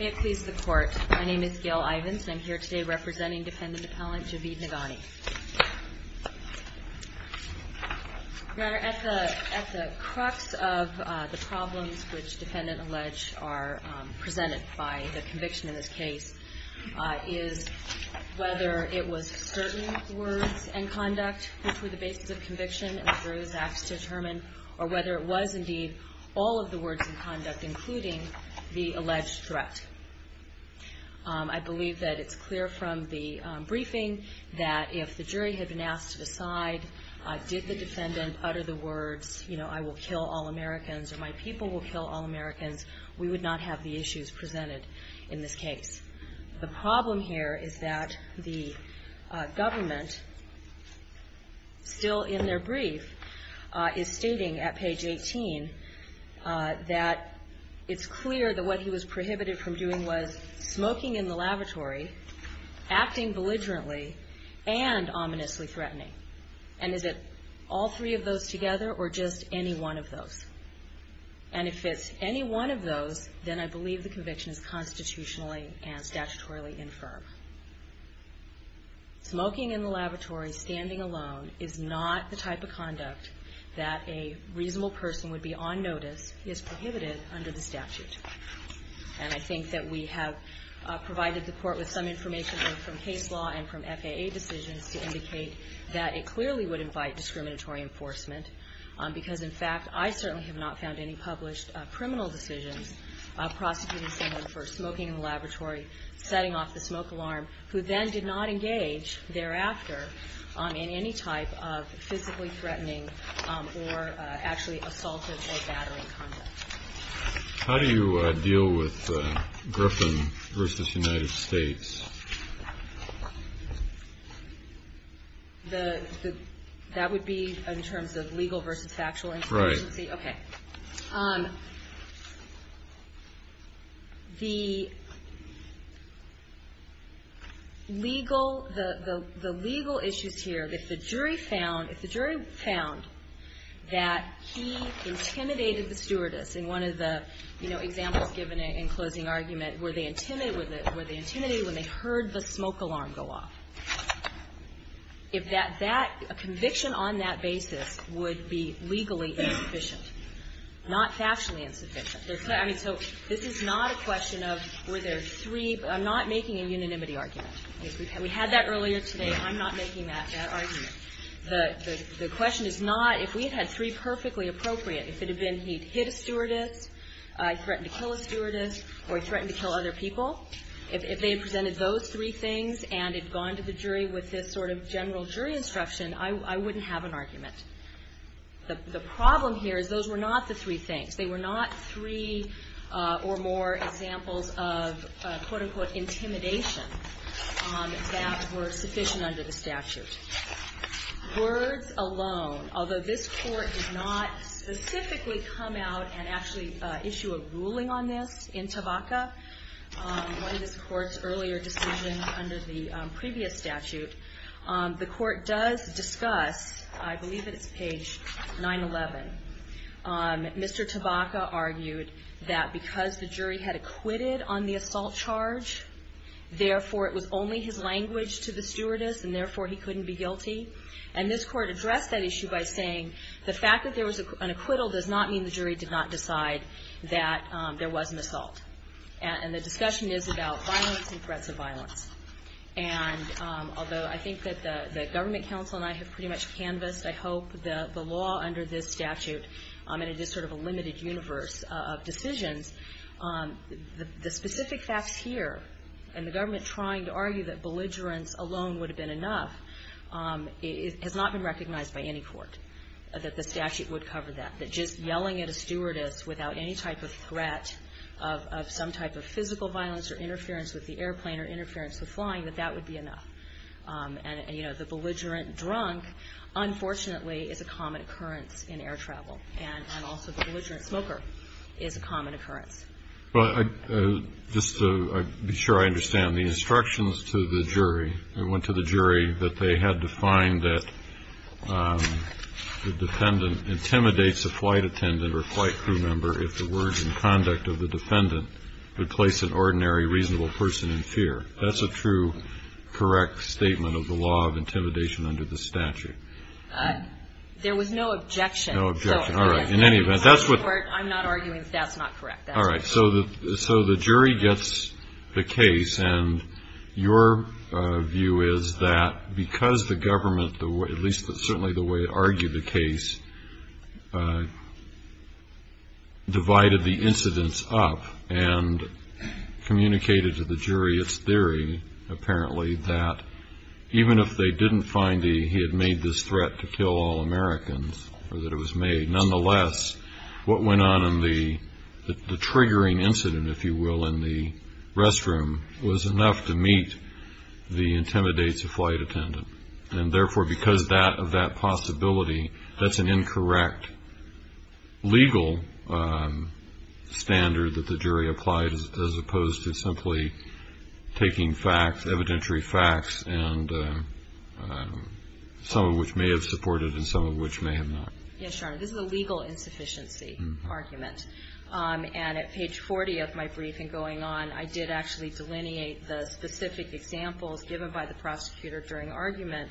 It pleases the court. My name is Gail Ivins and I'm here today representing defendant appellant Javid Naghani. At the at the crux of the problems which defendant alleged are presented by the conviction in this case is whether it was certain words and conduct which were the basis of conviction and the various acts determined or whether it was indeed all of the words and conduct including the conduct. I believe that it's clear from the briefing that if the jury had been asked to decide did the defendant utter the words you know I will kill all Americans or my people will kill all Americans we would not have the issues presented in this case. The problem here is that the government still in their view was smoking in the lavatory acting belligerently and ominously threatening and is it all three of those together or just any one of those and if it's any one of those then I believe the conviction is constitutionally and statutorily infirm. Smoking in the laboratory standing alone is not the type of conduct that a reasonable person would be on notice is prohibited under the statute and I think that we have provided the court with some information from case law and from FAA decisions to indicate that it clearly would invite discriminatory enforcement because in fact I certainly have not found any published criminal decisions of prosecuting someone for smoking in the laboratory setting off the smoke alarm who then did not engage thereafter on in any type of physically threatening or actually assaultive or battering conduct. How do you deal with Griffin versus United States? That would be in terms of legal versus factual? Right. Okay. The legal issues here if the jury found that he intimidated the stewardess in one of the examples given in closing argument where they intimidated when they heard the smoke alarm go off. If that conviction on that basis would be legally insufficient, not factually insufficient. I mean so this is not a question of were there three, I'm not making a unanimity argument. We had that earlier today, I'm not making that argument. The question is not if we had had three perfectly appropriate, if it had been he'd hit a stewardess, threatened to kill a stewardess or threatened to kill other people, if they had presented those three things and had gone to the jury with this sort of general jury instruction, I wouldn't have an argument. The problem here is those were not the three things. They were not three or more examples of quote unquote intimidation that were sufficient under the statute. Words alone, although this court did not specifically come out and actually issue a ruling on this in the decision under the previous statute, the court does discuss, I believe it's page 911, Mr. Tabaka argued that because the jury had acquitted on the assault charge, therefore it was only his language to the stewardess and therefore he couldn't be guilty. And this court addressed that issue by saying the fact that there was an acquittal does not mean the jury did not decide that there was an assault. And the discussion is about violence and threats of violence. And although I think that the government counsel and I have pretty much canvassed, I hope, the law under this statute, and it is sort of a limited universe of decisions, the specific facts here and the government trying to argue that belligerence alone would have been enough has not been recognized by any court, that the statute would cover that, that just yelling at a stewardess without any type of threat of some type of physical violence or interference with the airplane or interference with flying, that that would be enough. And, you know, the belligerent drunk, unfortunately, is a common occurrence in air travel. And also the belligerent smoker is a common occurrence. But just to be sure I understand, the instructions to the jury, it went to the jury that they had to find that the defendant intimidates a flight attendant or a flight crew member if the words and conduct of the defendant would place an ordinary reasonable person in fear. That's a true, correct statement of the law of intimidation under the statute. There was no objection. No objection. All right. In any event, that's what the court I'm not arguing that's not correct. All right. So the jury gets the case. And your view is that because the government, at least certainly the way it argued the case, divided the incidents up and communicated to the jury its theory, apparently, that even if they didn't find he had made this threat to kill all Americans or that it was made, nonetheless, what went on in the triggering incident, if you will, in the restroom was enough to meet the intimidates of flight attendant. And therefore, because of that possibility, that's an incorrect legal standard that the jury applied as opposed to simply taking facts, evidentiary facts, and some of which may have supported and some of which may have not. Yes, Your Honor. This is a legal insufficiency argument. And at page 40 of my briefing going on, I did actually delineate the specific examples given by the prosecutor during argument,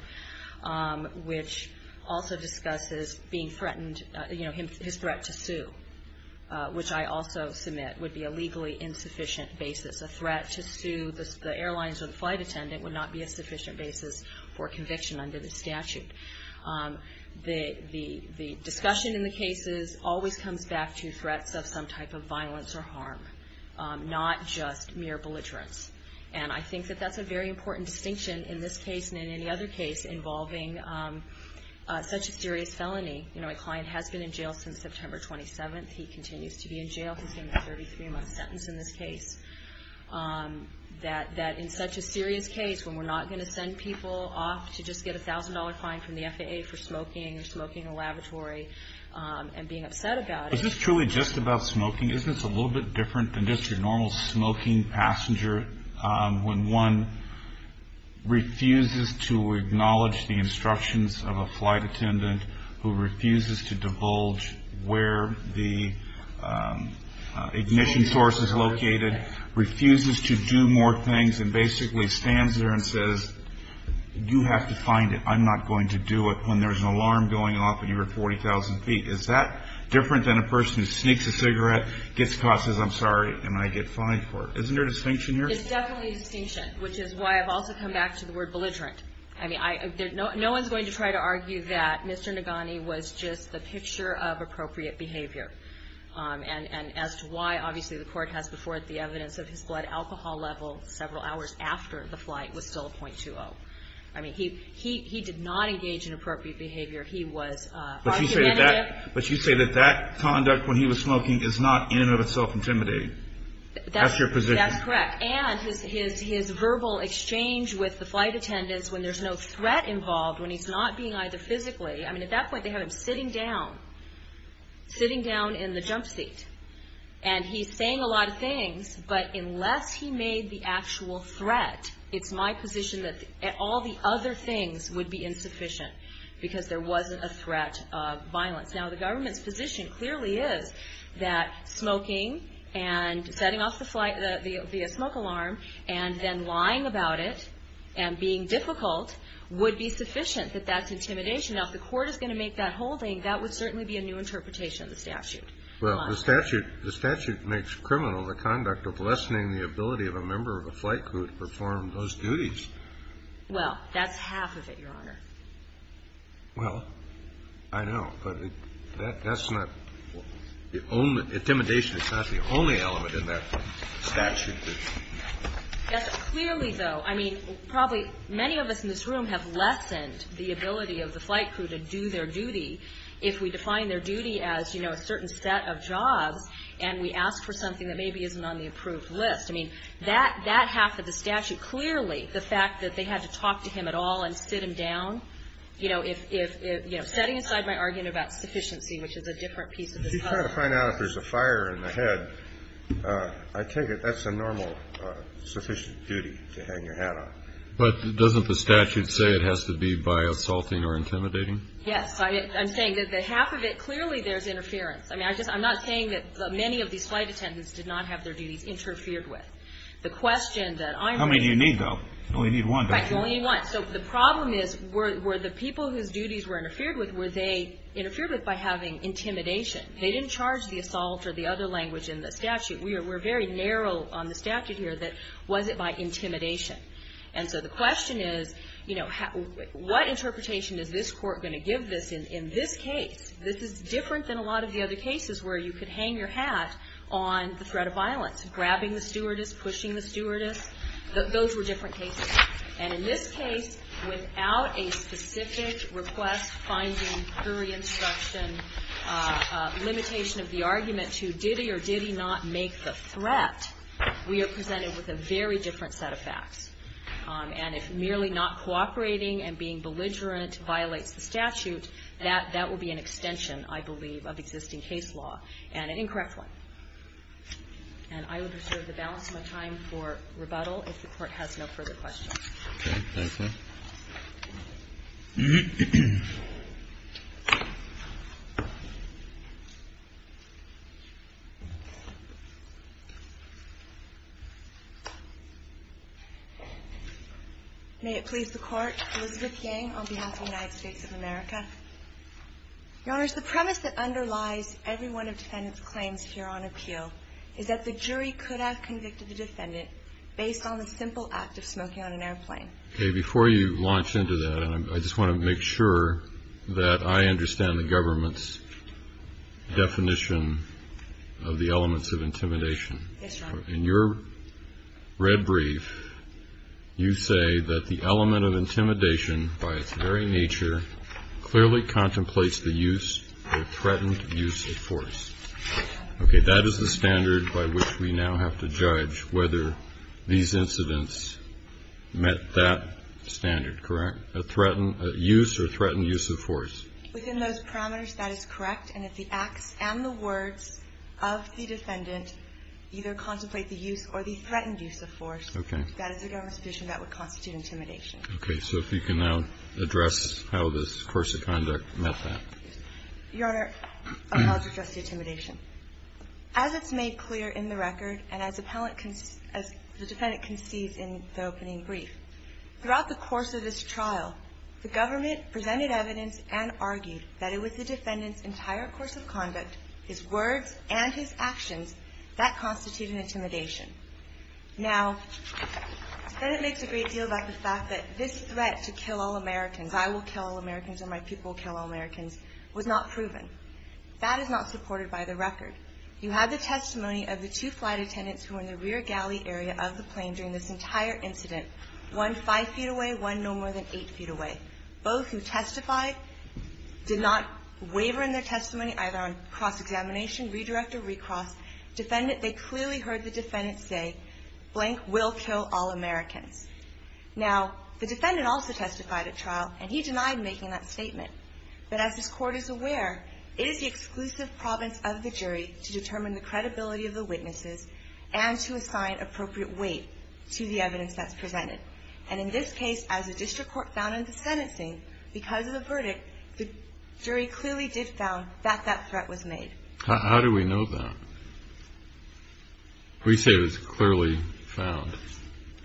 which also discusses being threatened, you know, his threat to sue, which I also submit would be a legally insufficient basis. A threat to sue the airlines or the flight attendant would not be a sufficient basis for conviction under the statute. The discussion in the cases always comes back to threats of some type of violence or harm, not just mere belligerence. And I think that that's a very important distinction in this case and in any other case involving such a serious felony. You know, my client has been in jail since September 27th. He continues to be in jail. He's getting a 33-month sentence in this case. That in such a serious case when we're not going to send people off to just get a $1,000 fine from the FAA for smoking or smoking in a laboratory and being upset about it. Is this truly just about smoking? Isn't this a little bit different than just your normal smoking passenger when one refuses to acknowledge the instructions of a flight attendant who refuses to divulge where the ignition source is located, refuses to do more things, and basically stands there and says, you have to find it. I'm not going to do it, when there's an alarm going off when you're at 40,000 feet. Is that different than a person who sneaks a cigarette, gets caught, says I'm sorry, and I get fined for it? Isn't there a distinction here? It's definitely a distinction, which is why I've also come back to the word belligerent. I mean, no one's going to try to argue that Mr. Nagani was just the picture of appropriate behavior. And as to why, obviously the Court has before it the evidence of his blood alcohol level several hours after the flight was still a .20. I mean, he did not engage in appropriate behavior. He was argumentative. But you say that that conduct when he was smoking is not in and of itself intimidating. That's your position. That's correct. And his verbal exchange with the flight attendants when there's no threat involved, when he's not being either physically, I mean, at that point they have him sitting down, sitting down in the jump seat. And he's saying a lot of things, but unless he made the actual threat, it's my position that all the other things would be insufficient because there wasn't a threat of violence. Now, the government's position clearly is that smoking and setting off the smoke alarm and then lying about it and being difficult would be sufficient, that that's intimidation. Now, if the Court is going to make that holding, that would certainly be a new interpretation of the statute. Well, the statute makes criminal the conduct of lessening the ability of a member of a flight crew to perform those duties. Well, that's half of it, Your Honor. Well, I know. But that's not the only – intimidation is not the only element in that statute. Yes. Clearly, though, I mean, probably many of us in this room have lessened the ability of the flight crew to do their duty if we define their duty as, you know, a certain set of jobs and we ask for something that maybe isn't on the approved list. I mean, that half of the statute, clearly the fact that they had to talk to him at all and sit him down, you know, if – you know, setting aside my argument about sufficiency, which is a different piece of the statute. I'm trying to find out if there's a fire in the head. I take it that's a normal sufficient duty to hang your hat on. But doesn't the statute say it has to be by assaulting or intimidating? Yes. I'm saying that the half of it, clearly there's interference. I mean, I just – I'm not saying that many of these flight attendants did not have their duties interfered with. The question that I'm raising – How many do you need, though? You only need one, don't you? I only need one. So the problem is, were the people whose duties were interfered with, were they interfered with by having intimidation? They didn't charge the assault or the other language in the statute. We're very narrow on the statute here that was it by intimidation. And so the question is, you know, what interpretation is this Court going to give this in this case? This is different than a lot of the other cases where you could hang your hat on the threat of violence, grabbing the stewardess, pushing the stewardess. Those were different cases. And in this case, without a specific request, finding, jury instruction, limitation of the argument to did he or did he not make the threat, we are presented with a very different set of facts. And if merely not cooperating and being belligerent violates the statute, that will be an extension, I believe, of existing case law, and an incorrect one. And I would reserve the balance of my time for rebuttal if the Court has no further questions. Okay. Thank you. May it please the Court. Elizabeth Yang on behalf of the United States of America. Your Honors, the premise that underlies every one of defendant's claims here on appeal is that the jury could have convicted the defendant based on the simple act of smoking on an airplane. Okay. Before you launch into that, I just want to make sure that I understand the government's definition of the elements of intimidation. Yes, Your Honor. In your red brief, you say that the element of intimidation by its very nature clearly contemplates the use or threatened use of force. Okay. That is the standard by which we now have to judge whether these incidents met that standard, correct? A threatened use or threatened use of force. Within those parameters, that is correct. And if the acts and the words of the defendant either contemplate the use or the threatened use of force, that is the government's position that would constitute intimidation. Okay. So if you can now address how this course of conduct met that. Your Honor, I would like to address the intimidation. As it's made clear in the record and as the defendant concedes in the opening brief, throughout the course of this trial, the government presented evidence and argued that it was the defendant's entire course of conduct, his words and his actions, that constituted intimidation. Now, the defendant makes a great deal about the fact that this threat to kill all Americans, I will kill all Americans or my people will kill all Americans, was not proven. That is not supported by the record. You have the testimony of the two flight attendants who were in the rear galley area of the plane during this entire incident, one 5 feet away, one no more than 8 feet away. Both who testified did not waver in their testimony either on cross-examination, redirect or recross. Defendant, they clearly heard the defendant say, blank, will kill all Americans. Now, the defendant also testified at trial and he denied making that statement. But as this Court is aware, it is the exclusive province of the jury to determine the credibility of the witnesses and to assign appropriate weight to the evidence that's presented. And in this case, as the district court found in the sentencing, because of the verdict, the jury clearly did found that that threat was made. How do we know that? We say it was clearly found.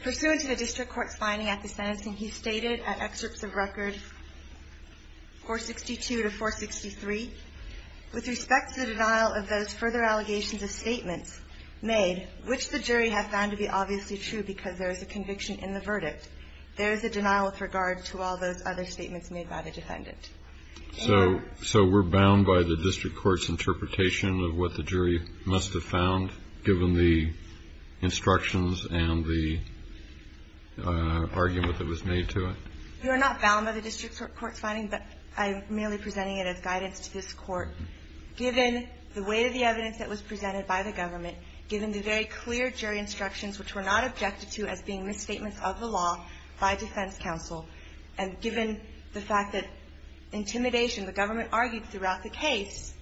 Pursuant to the district court's finding at the sentencing, he stated at excerpts of record 462 to 463, with respect to the denial of those further allegations of statements made, which the jury have found to be obviously true because there is a conviction in the verdict, there is a denial with regard to all those other statements made by the defendant. So we're bound by the district court's interpretation of what the jury must have found, given the instructions and the argument that was made to it? We are not bound by the district court's finding, but I'm merely presenting it as guidance to this Court. Given the weight of the evidence that was presented by the government, given the very clear jury instructions, which were not objected to as being misstatements of the law by defense counsel, and given the fact that intimidation, the government argued throughout the case,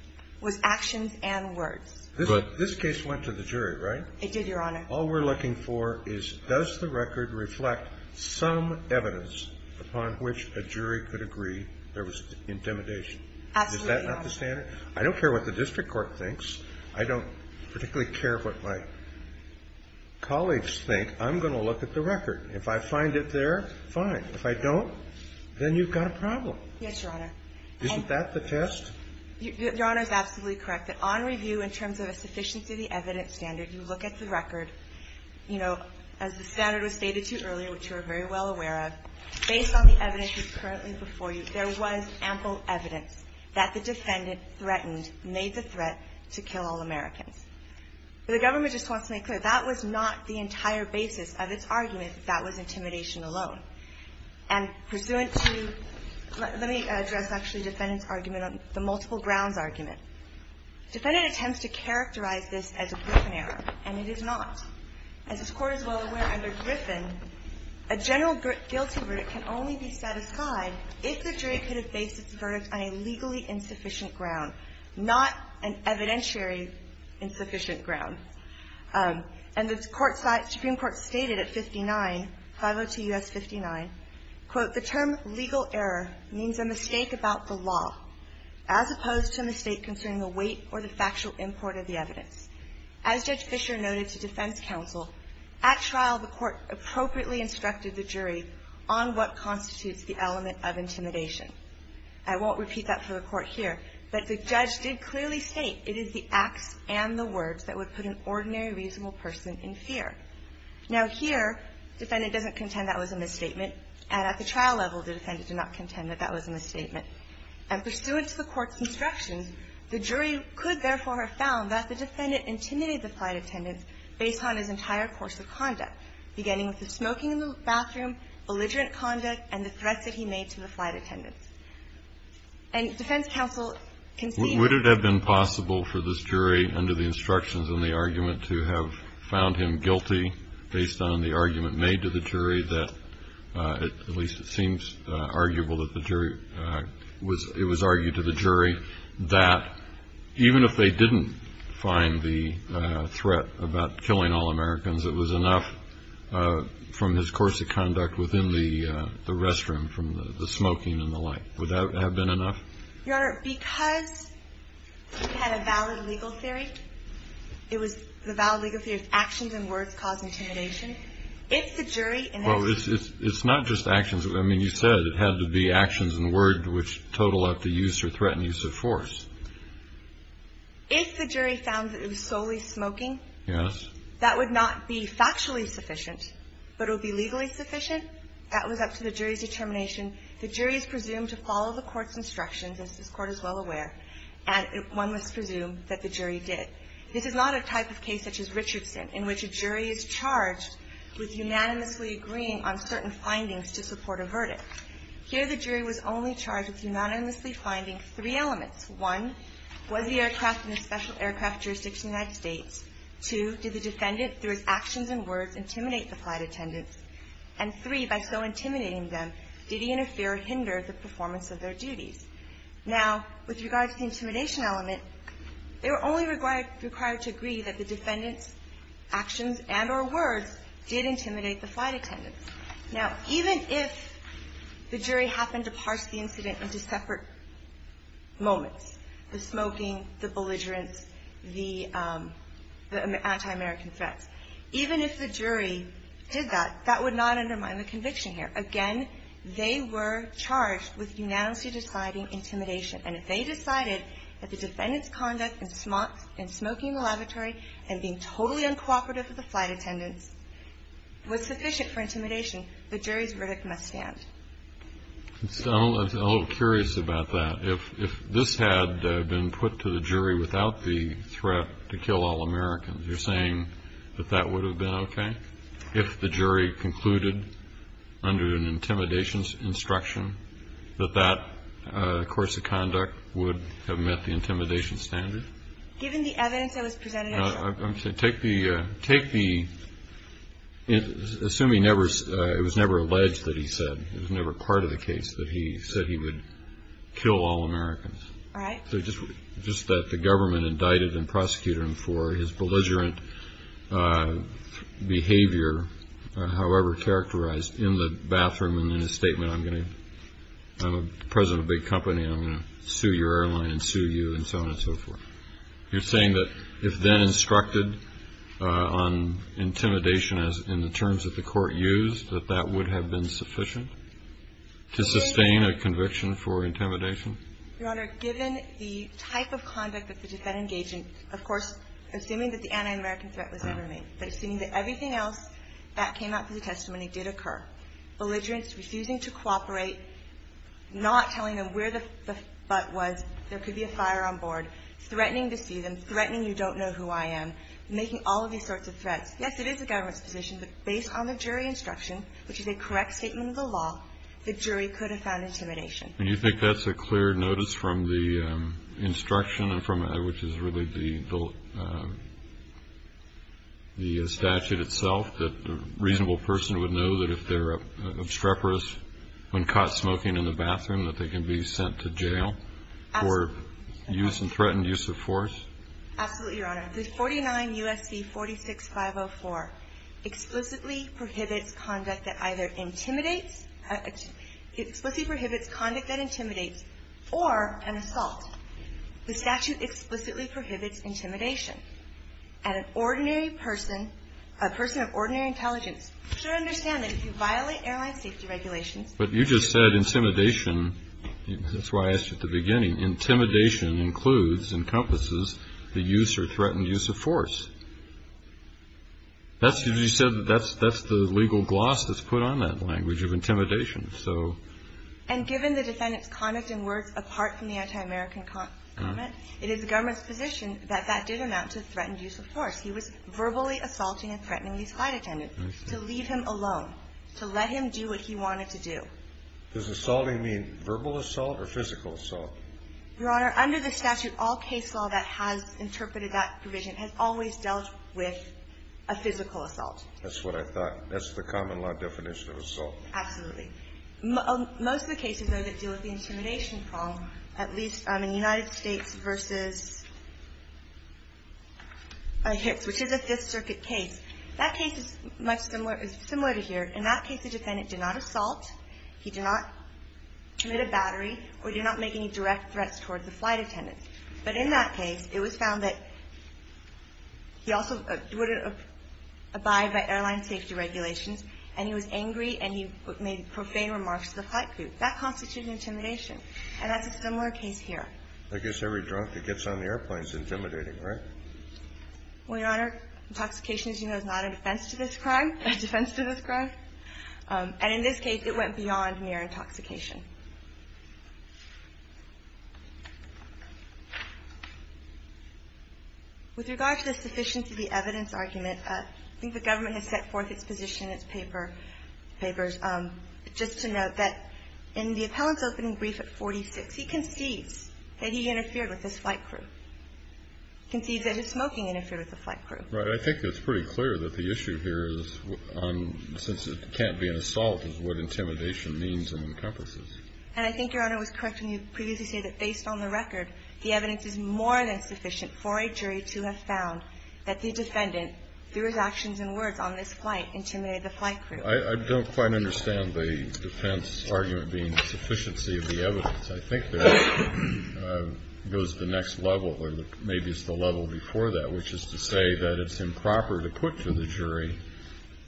was actions and words. But this case went to the jury, right? It did, Your Honor. All we're looking for is, does the record reflect some evidence upon which a jury could agree there was intimidation? Absolutely, Your Honor. Is that not the standard? I don't care what the district court thinks. I don't particularly care what my colleagues think. I'm going to look at the record. If I find it there, fine. If I don't, then you've got a problem. Yes, Your Honor. Isn't that the test? Your Honor is absolutely correct. On review, in terms of a sufficiency of the evidence standard, you look at the record. You know, as the standard was stated to you earlier, which you are very well aware of, based on the evidence that's currently before you, there was ample evidence that the defendant threatened, made the threat to kill all Americans. But the government just wants to make clear, that was not the entire basis of its argument, that that was intimidation alone. And pursuant to, let me address actually defendant's argument on the multiple grounds argument. Defendant attempts to characterize this as a Griffin error, and it is not. As this Court is well aware, under Griffin, a general guilty verdict can only be set on a legally insufficient ground, not an evidentiary insufficient ground. And the Supreme Court stated at 59, 502 U.S. 59, quote, the term legal error means a mistake about the law, as opposed to a mistake concerning the weight or the factual import of the evidence. As Judge Fisher noted to defense counsel, at trial, the Court appropriately instructed the jury on what constitutes the element of intimidation. I won't repeat that for the Court here, but the judge did clearly state it is the acts and the words that would put an ordinary reasonable person in fear. Now here, defendant doesn't contend that was a misstatement, and at the trial level, the defendant did not contend that that was a misstatement. And pursuant to the Court's instructions, the jury could therefore have found that the defendant intimidated the flight attendants based on his entire course of conduct, beginning with the smoking in the bathroom, belligerent conduct, and the threats that he made to the flight attendants. And defense counsel can see that. Kennedy. Would it have been possible for this jury, under the instructions and the argument to have found him guilty based on the argument made to the jury that, at least it seems arguable that the jury was, it was argued to the jury that even if they didn't find the threat about killing all Americans, it was enough from his course of conduct within the restroom, from the smoking and the like. Would that have been enough? Your Honor, because we had a valid legal theory, it was the valid legal theory that actions and words cause intimidation. If the jury in that case... Well, it's not just actions. I mean, you said it had to be actions and word which total up the use or threatened use of force. If the jury found that it was solely smoking... Yes. That would not be factually sufficient, but it would be legally sufficient. That was up to the jury's determination. The jury is presumed to follow the court's instructions, as this Court is well aware. And one must presume that the jury did. This is not a type of case such as Richardson in which a jury is charged with unanimously agreeing on certain findings to support a verdict. Here the jury was only charged with unanimously finding three elements. One, was the aircraft in a special aircraft jurisdiction in the United States? Two, did the defendant, through his actions and words, intimidate the flight attendants? And three, by so intimidating them, did he interfere or hinder the performance of their duties? Now, with regard to the intimidation element, they were only required to agree that the defendant's actions and or words did intimidate the flight attendants. Now, even if the jury happened to parse the incident into separate moments, the smoking, the belligerence, the anti-American threats, even if the jury did that, that would not undermine the conviction here. Again, they were charged with unanimously deciding intimidation. And if they decided that the defendant's conduct in smoking the lavatory and being totally uncooperative with the flight attendants was sufficient for intimidation, the jury's verdict must stand. I'm a little curious about that. If this had been put to the jury without the threat to kill all Americans, you're saying that that would have been okay? If the jury concluded under an intimidation instruction that that course of conduct would have met the intimidation standard? Given the evidence that was presented, I'm sure. Assuming it was never alleged that he said, it was never part of the case that he said he would kill all Americans, just that the government indicted and prosecuted him for his belligerent behavior, however characterized, in the bathroom and in his statement, I'm going to, I'm the president of a big company, I'm going to sue your airline and sue you and so on and so forth. You're saying that if then instructed on intimidation as in the terms that the court used, that that would have been sufficient to sustain a conviction for intimidation? Your Honor, given the type of conduct that the defendant engaged in, of course, assuming that the anti-American threat was never made, but assuming that everything else that came out of the testimony did occur, belligerents refusing to cooperate, not telling them where the butt was, there could be a fire on board, threatening to see them, threatening you don't know who I am, making all of these sorts of threats. Yes, it is the government's position, but based on the jury instruction, which is a correct statement of the law, the jury could have found intimidation. And you think that's a clear notice from the instruction, which is really the statute itself, that a reasonable person would know that if they're obstreperous when caught smoking in the bathroom, that they can be sent to jail for use and threatened use of force? Absolutely, Your Honor. The 49 U.S.C. 46504 explicitly prohibits conduct that either intimidates, explicitly prohibits conduct that intimidates or an assault. The statute explicitly prohibits intimidation, and an ordinary person, a person of ordinary intelligence should understand that if you violate airline safety regulations. But you just said intimidation. That's why I asked you at the beginning. Intimidation includes, encompasses the use or threatened use of force. That's because you said that's the legal gloss that's put on that language of intimidation. And given the defendant's conduct and words apart from the anti-American comment, it is the government's position that that did amount to threatened use of force. He was verbally assaulting and threatening the flight attendant to leave him alone, to let him do what he wanted to do. Does assaulting mean verbal assault or physical assault? Your Honor, under the statute, all case law that has interpreted that provision has always dealt with a physical assault. That's what I thought. That's the common law definition of assault. Absolutely. Most of the cases, though, that deal with the intimidation problem, at least in the United States versus Hicks, which is a Fifth Circuit case, that case is much similar to here. In that case, the defendant did not assault, he did not commit a battery, or did not make any direct threats towards the flight attendant. But in that case, it was found that he also wouldn't abide by airline safety regulations, and he was angry and he made profane remarks to the flight crew. That constitutes intimidation. And that's a similar case here. I guess every drunk that gets on the airplane is intimidating, right? Well, Your Honor, intoxication, as you know, is not a defense to this crime, a defense to this crime. And in this case, it went beyond mere intoxication. I think it's pretty clear that the issue here is, since it can't be an assault, is what intimidation means and encompasses. And I think Your Honor was correct when you previously said that based on the record, the evidence is more than sufficient for a jury to have found that the defendant, is what intimidation means and encompasses. I don't quite understand the defense argument being sufficiency of the evidence. I think that goes to the next level, or maybe it's the level before that, which is to say that it's improper to put to the jury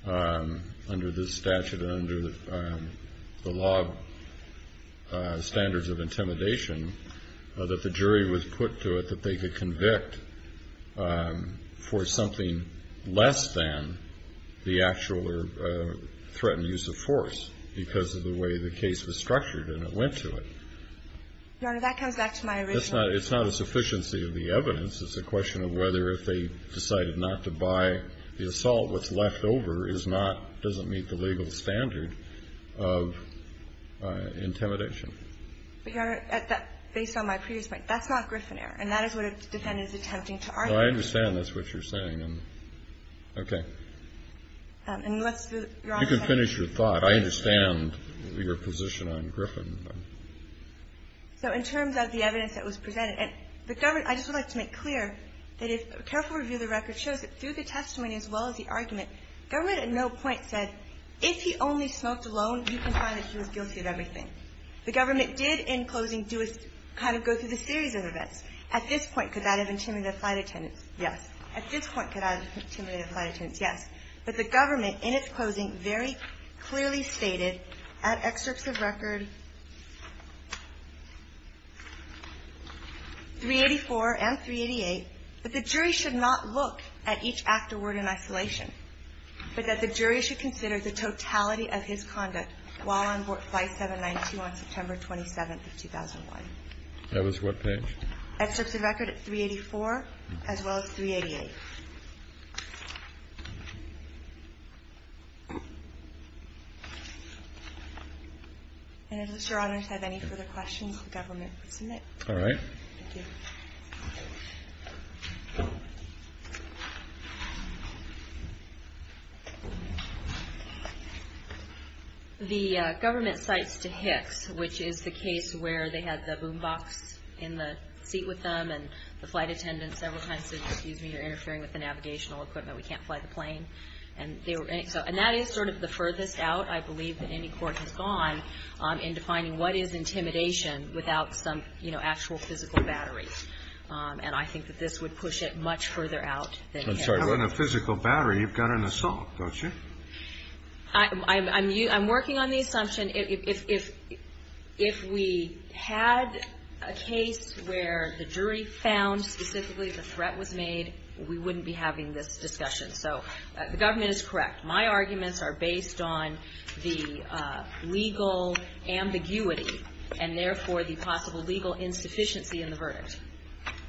under this statute and under the law standards of intimidation that the jury was put to it that they could convict for something less than the actual threatened use of force because of the way the case was structured and it went to it. Your Honor, that comes back to my original point. It's not a sufficiency of the evidence. It's a question of whether if they decided not to buy the assault, what's left over is not, doesn't meet the legal standard of intimidation. Your Honor, based on my previous point, that's not Griffin error. And that is what a defendant is attempting to argue. No, I understand. That's what you're saying. Okay. You can finish your thought. I understand your position on Griffin. So in terms of the evidence that was presented, and the government, I just would like to make clear that a careful review of the record shows that through the testimony as well as the argument, government at no point said, if he only smoked alone, you can find that he was guilty of everything. The government did in closing do a kind of go through the series of events. At this point, could that have intimidated flight attendants? Yes. At this point, could that have intimidated flight attendants? Yes. But the government in its closing very clearly stated at excerpts of record 384 and 388 that the jury should not look at each act or word in isolation, but that the jury should consider the totality of his conduct while on board flight 792 on September 27th of 2001. That was what page? Excerpts of record 384 as well as 388. And if Mr. Honors has any further questions, the government can submit. All right. Thank you. The government cites to Hicks, which is the case where they had the boom box in the seat with them and the flight attendant several times said, excuse me, you're interfering with the navigational equipment. We can't fly the plane. And that is sort of the furthest out, I believe, that any court has gone in defining what is intimidation without some, you know, actual physical battery. And I think that this would push it much further out than it has. You don't have a physical battery. You've got an assault, don't you? I'm working on the assumption if we had a case where the jury found specifically the threat was made, we wouldn't be having this discussion. So the government is correct. My arguments are based on the legal ambiguity and, therefore, the possible legal insufficiency in the verdict.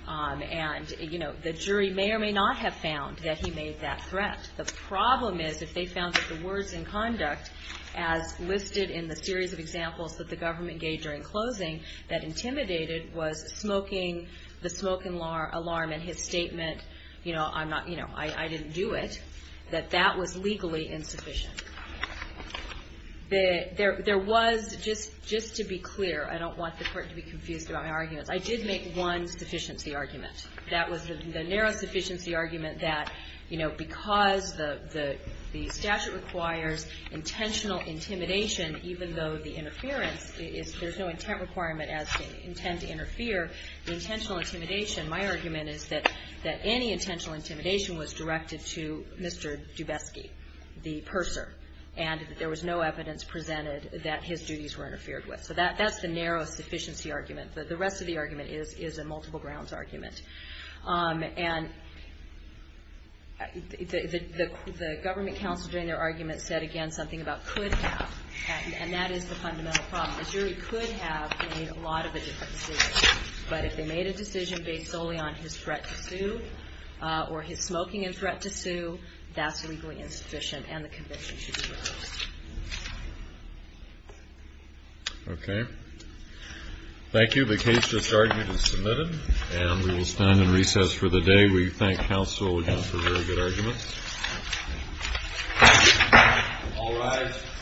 And, you know, the jury may or may not have found that he made that threat. The problem is if they found that the words in conduct, as listed in the series of examples that the government gave during closing, that intimidated was smoking the smoke alarm and his statement, you know, I didn't do it, that that was legally insufficient. There was, just to be clear, I don't want the court to be confused about my own sufficiency argument. That was the narrow sufficiency argument that, you know, because the statute requires intentional intimidation, even though the interference is, there's no intent requirement as to intent to interfere. The intentional intimidation, my argument is that any intentional intimidation was directed to Mr. Dubesky, the purser, and there was no evidence presented that his duties were interfered with. So that's the narrow sufficiency argument. The rest of the argument is a multiple grounds argument. And the government counsel during their argument said, again, something about could have, and that is the fundamental problem. The jury could have made a lot of a different decision. But if they made a decision based solely on his threat to sue or his smoking and threat to sue, that's legally insufficient and the conviction should be reversed. Okay. Thank you. The case just argued and submitted. And we will stand in recess for the day. We thank counsel again for very good arguments. All rise.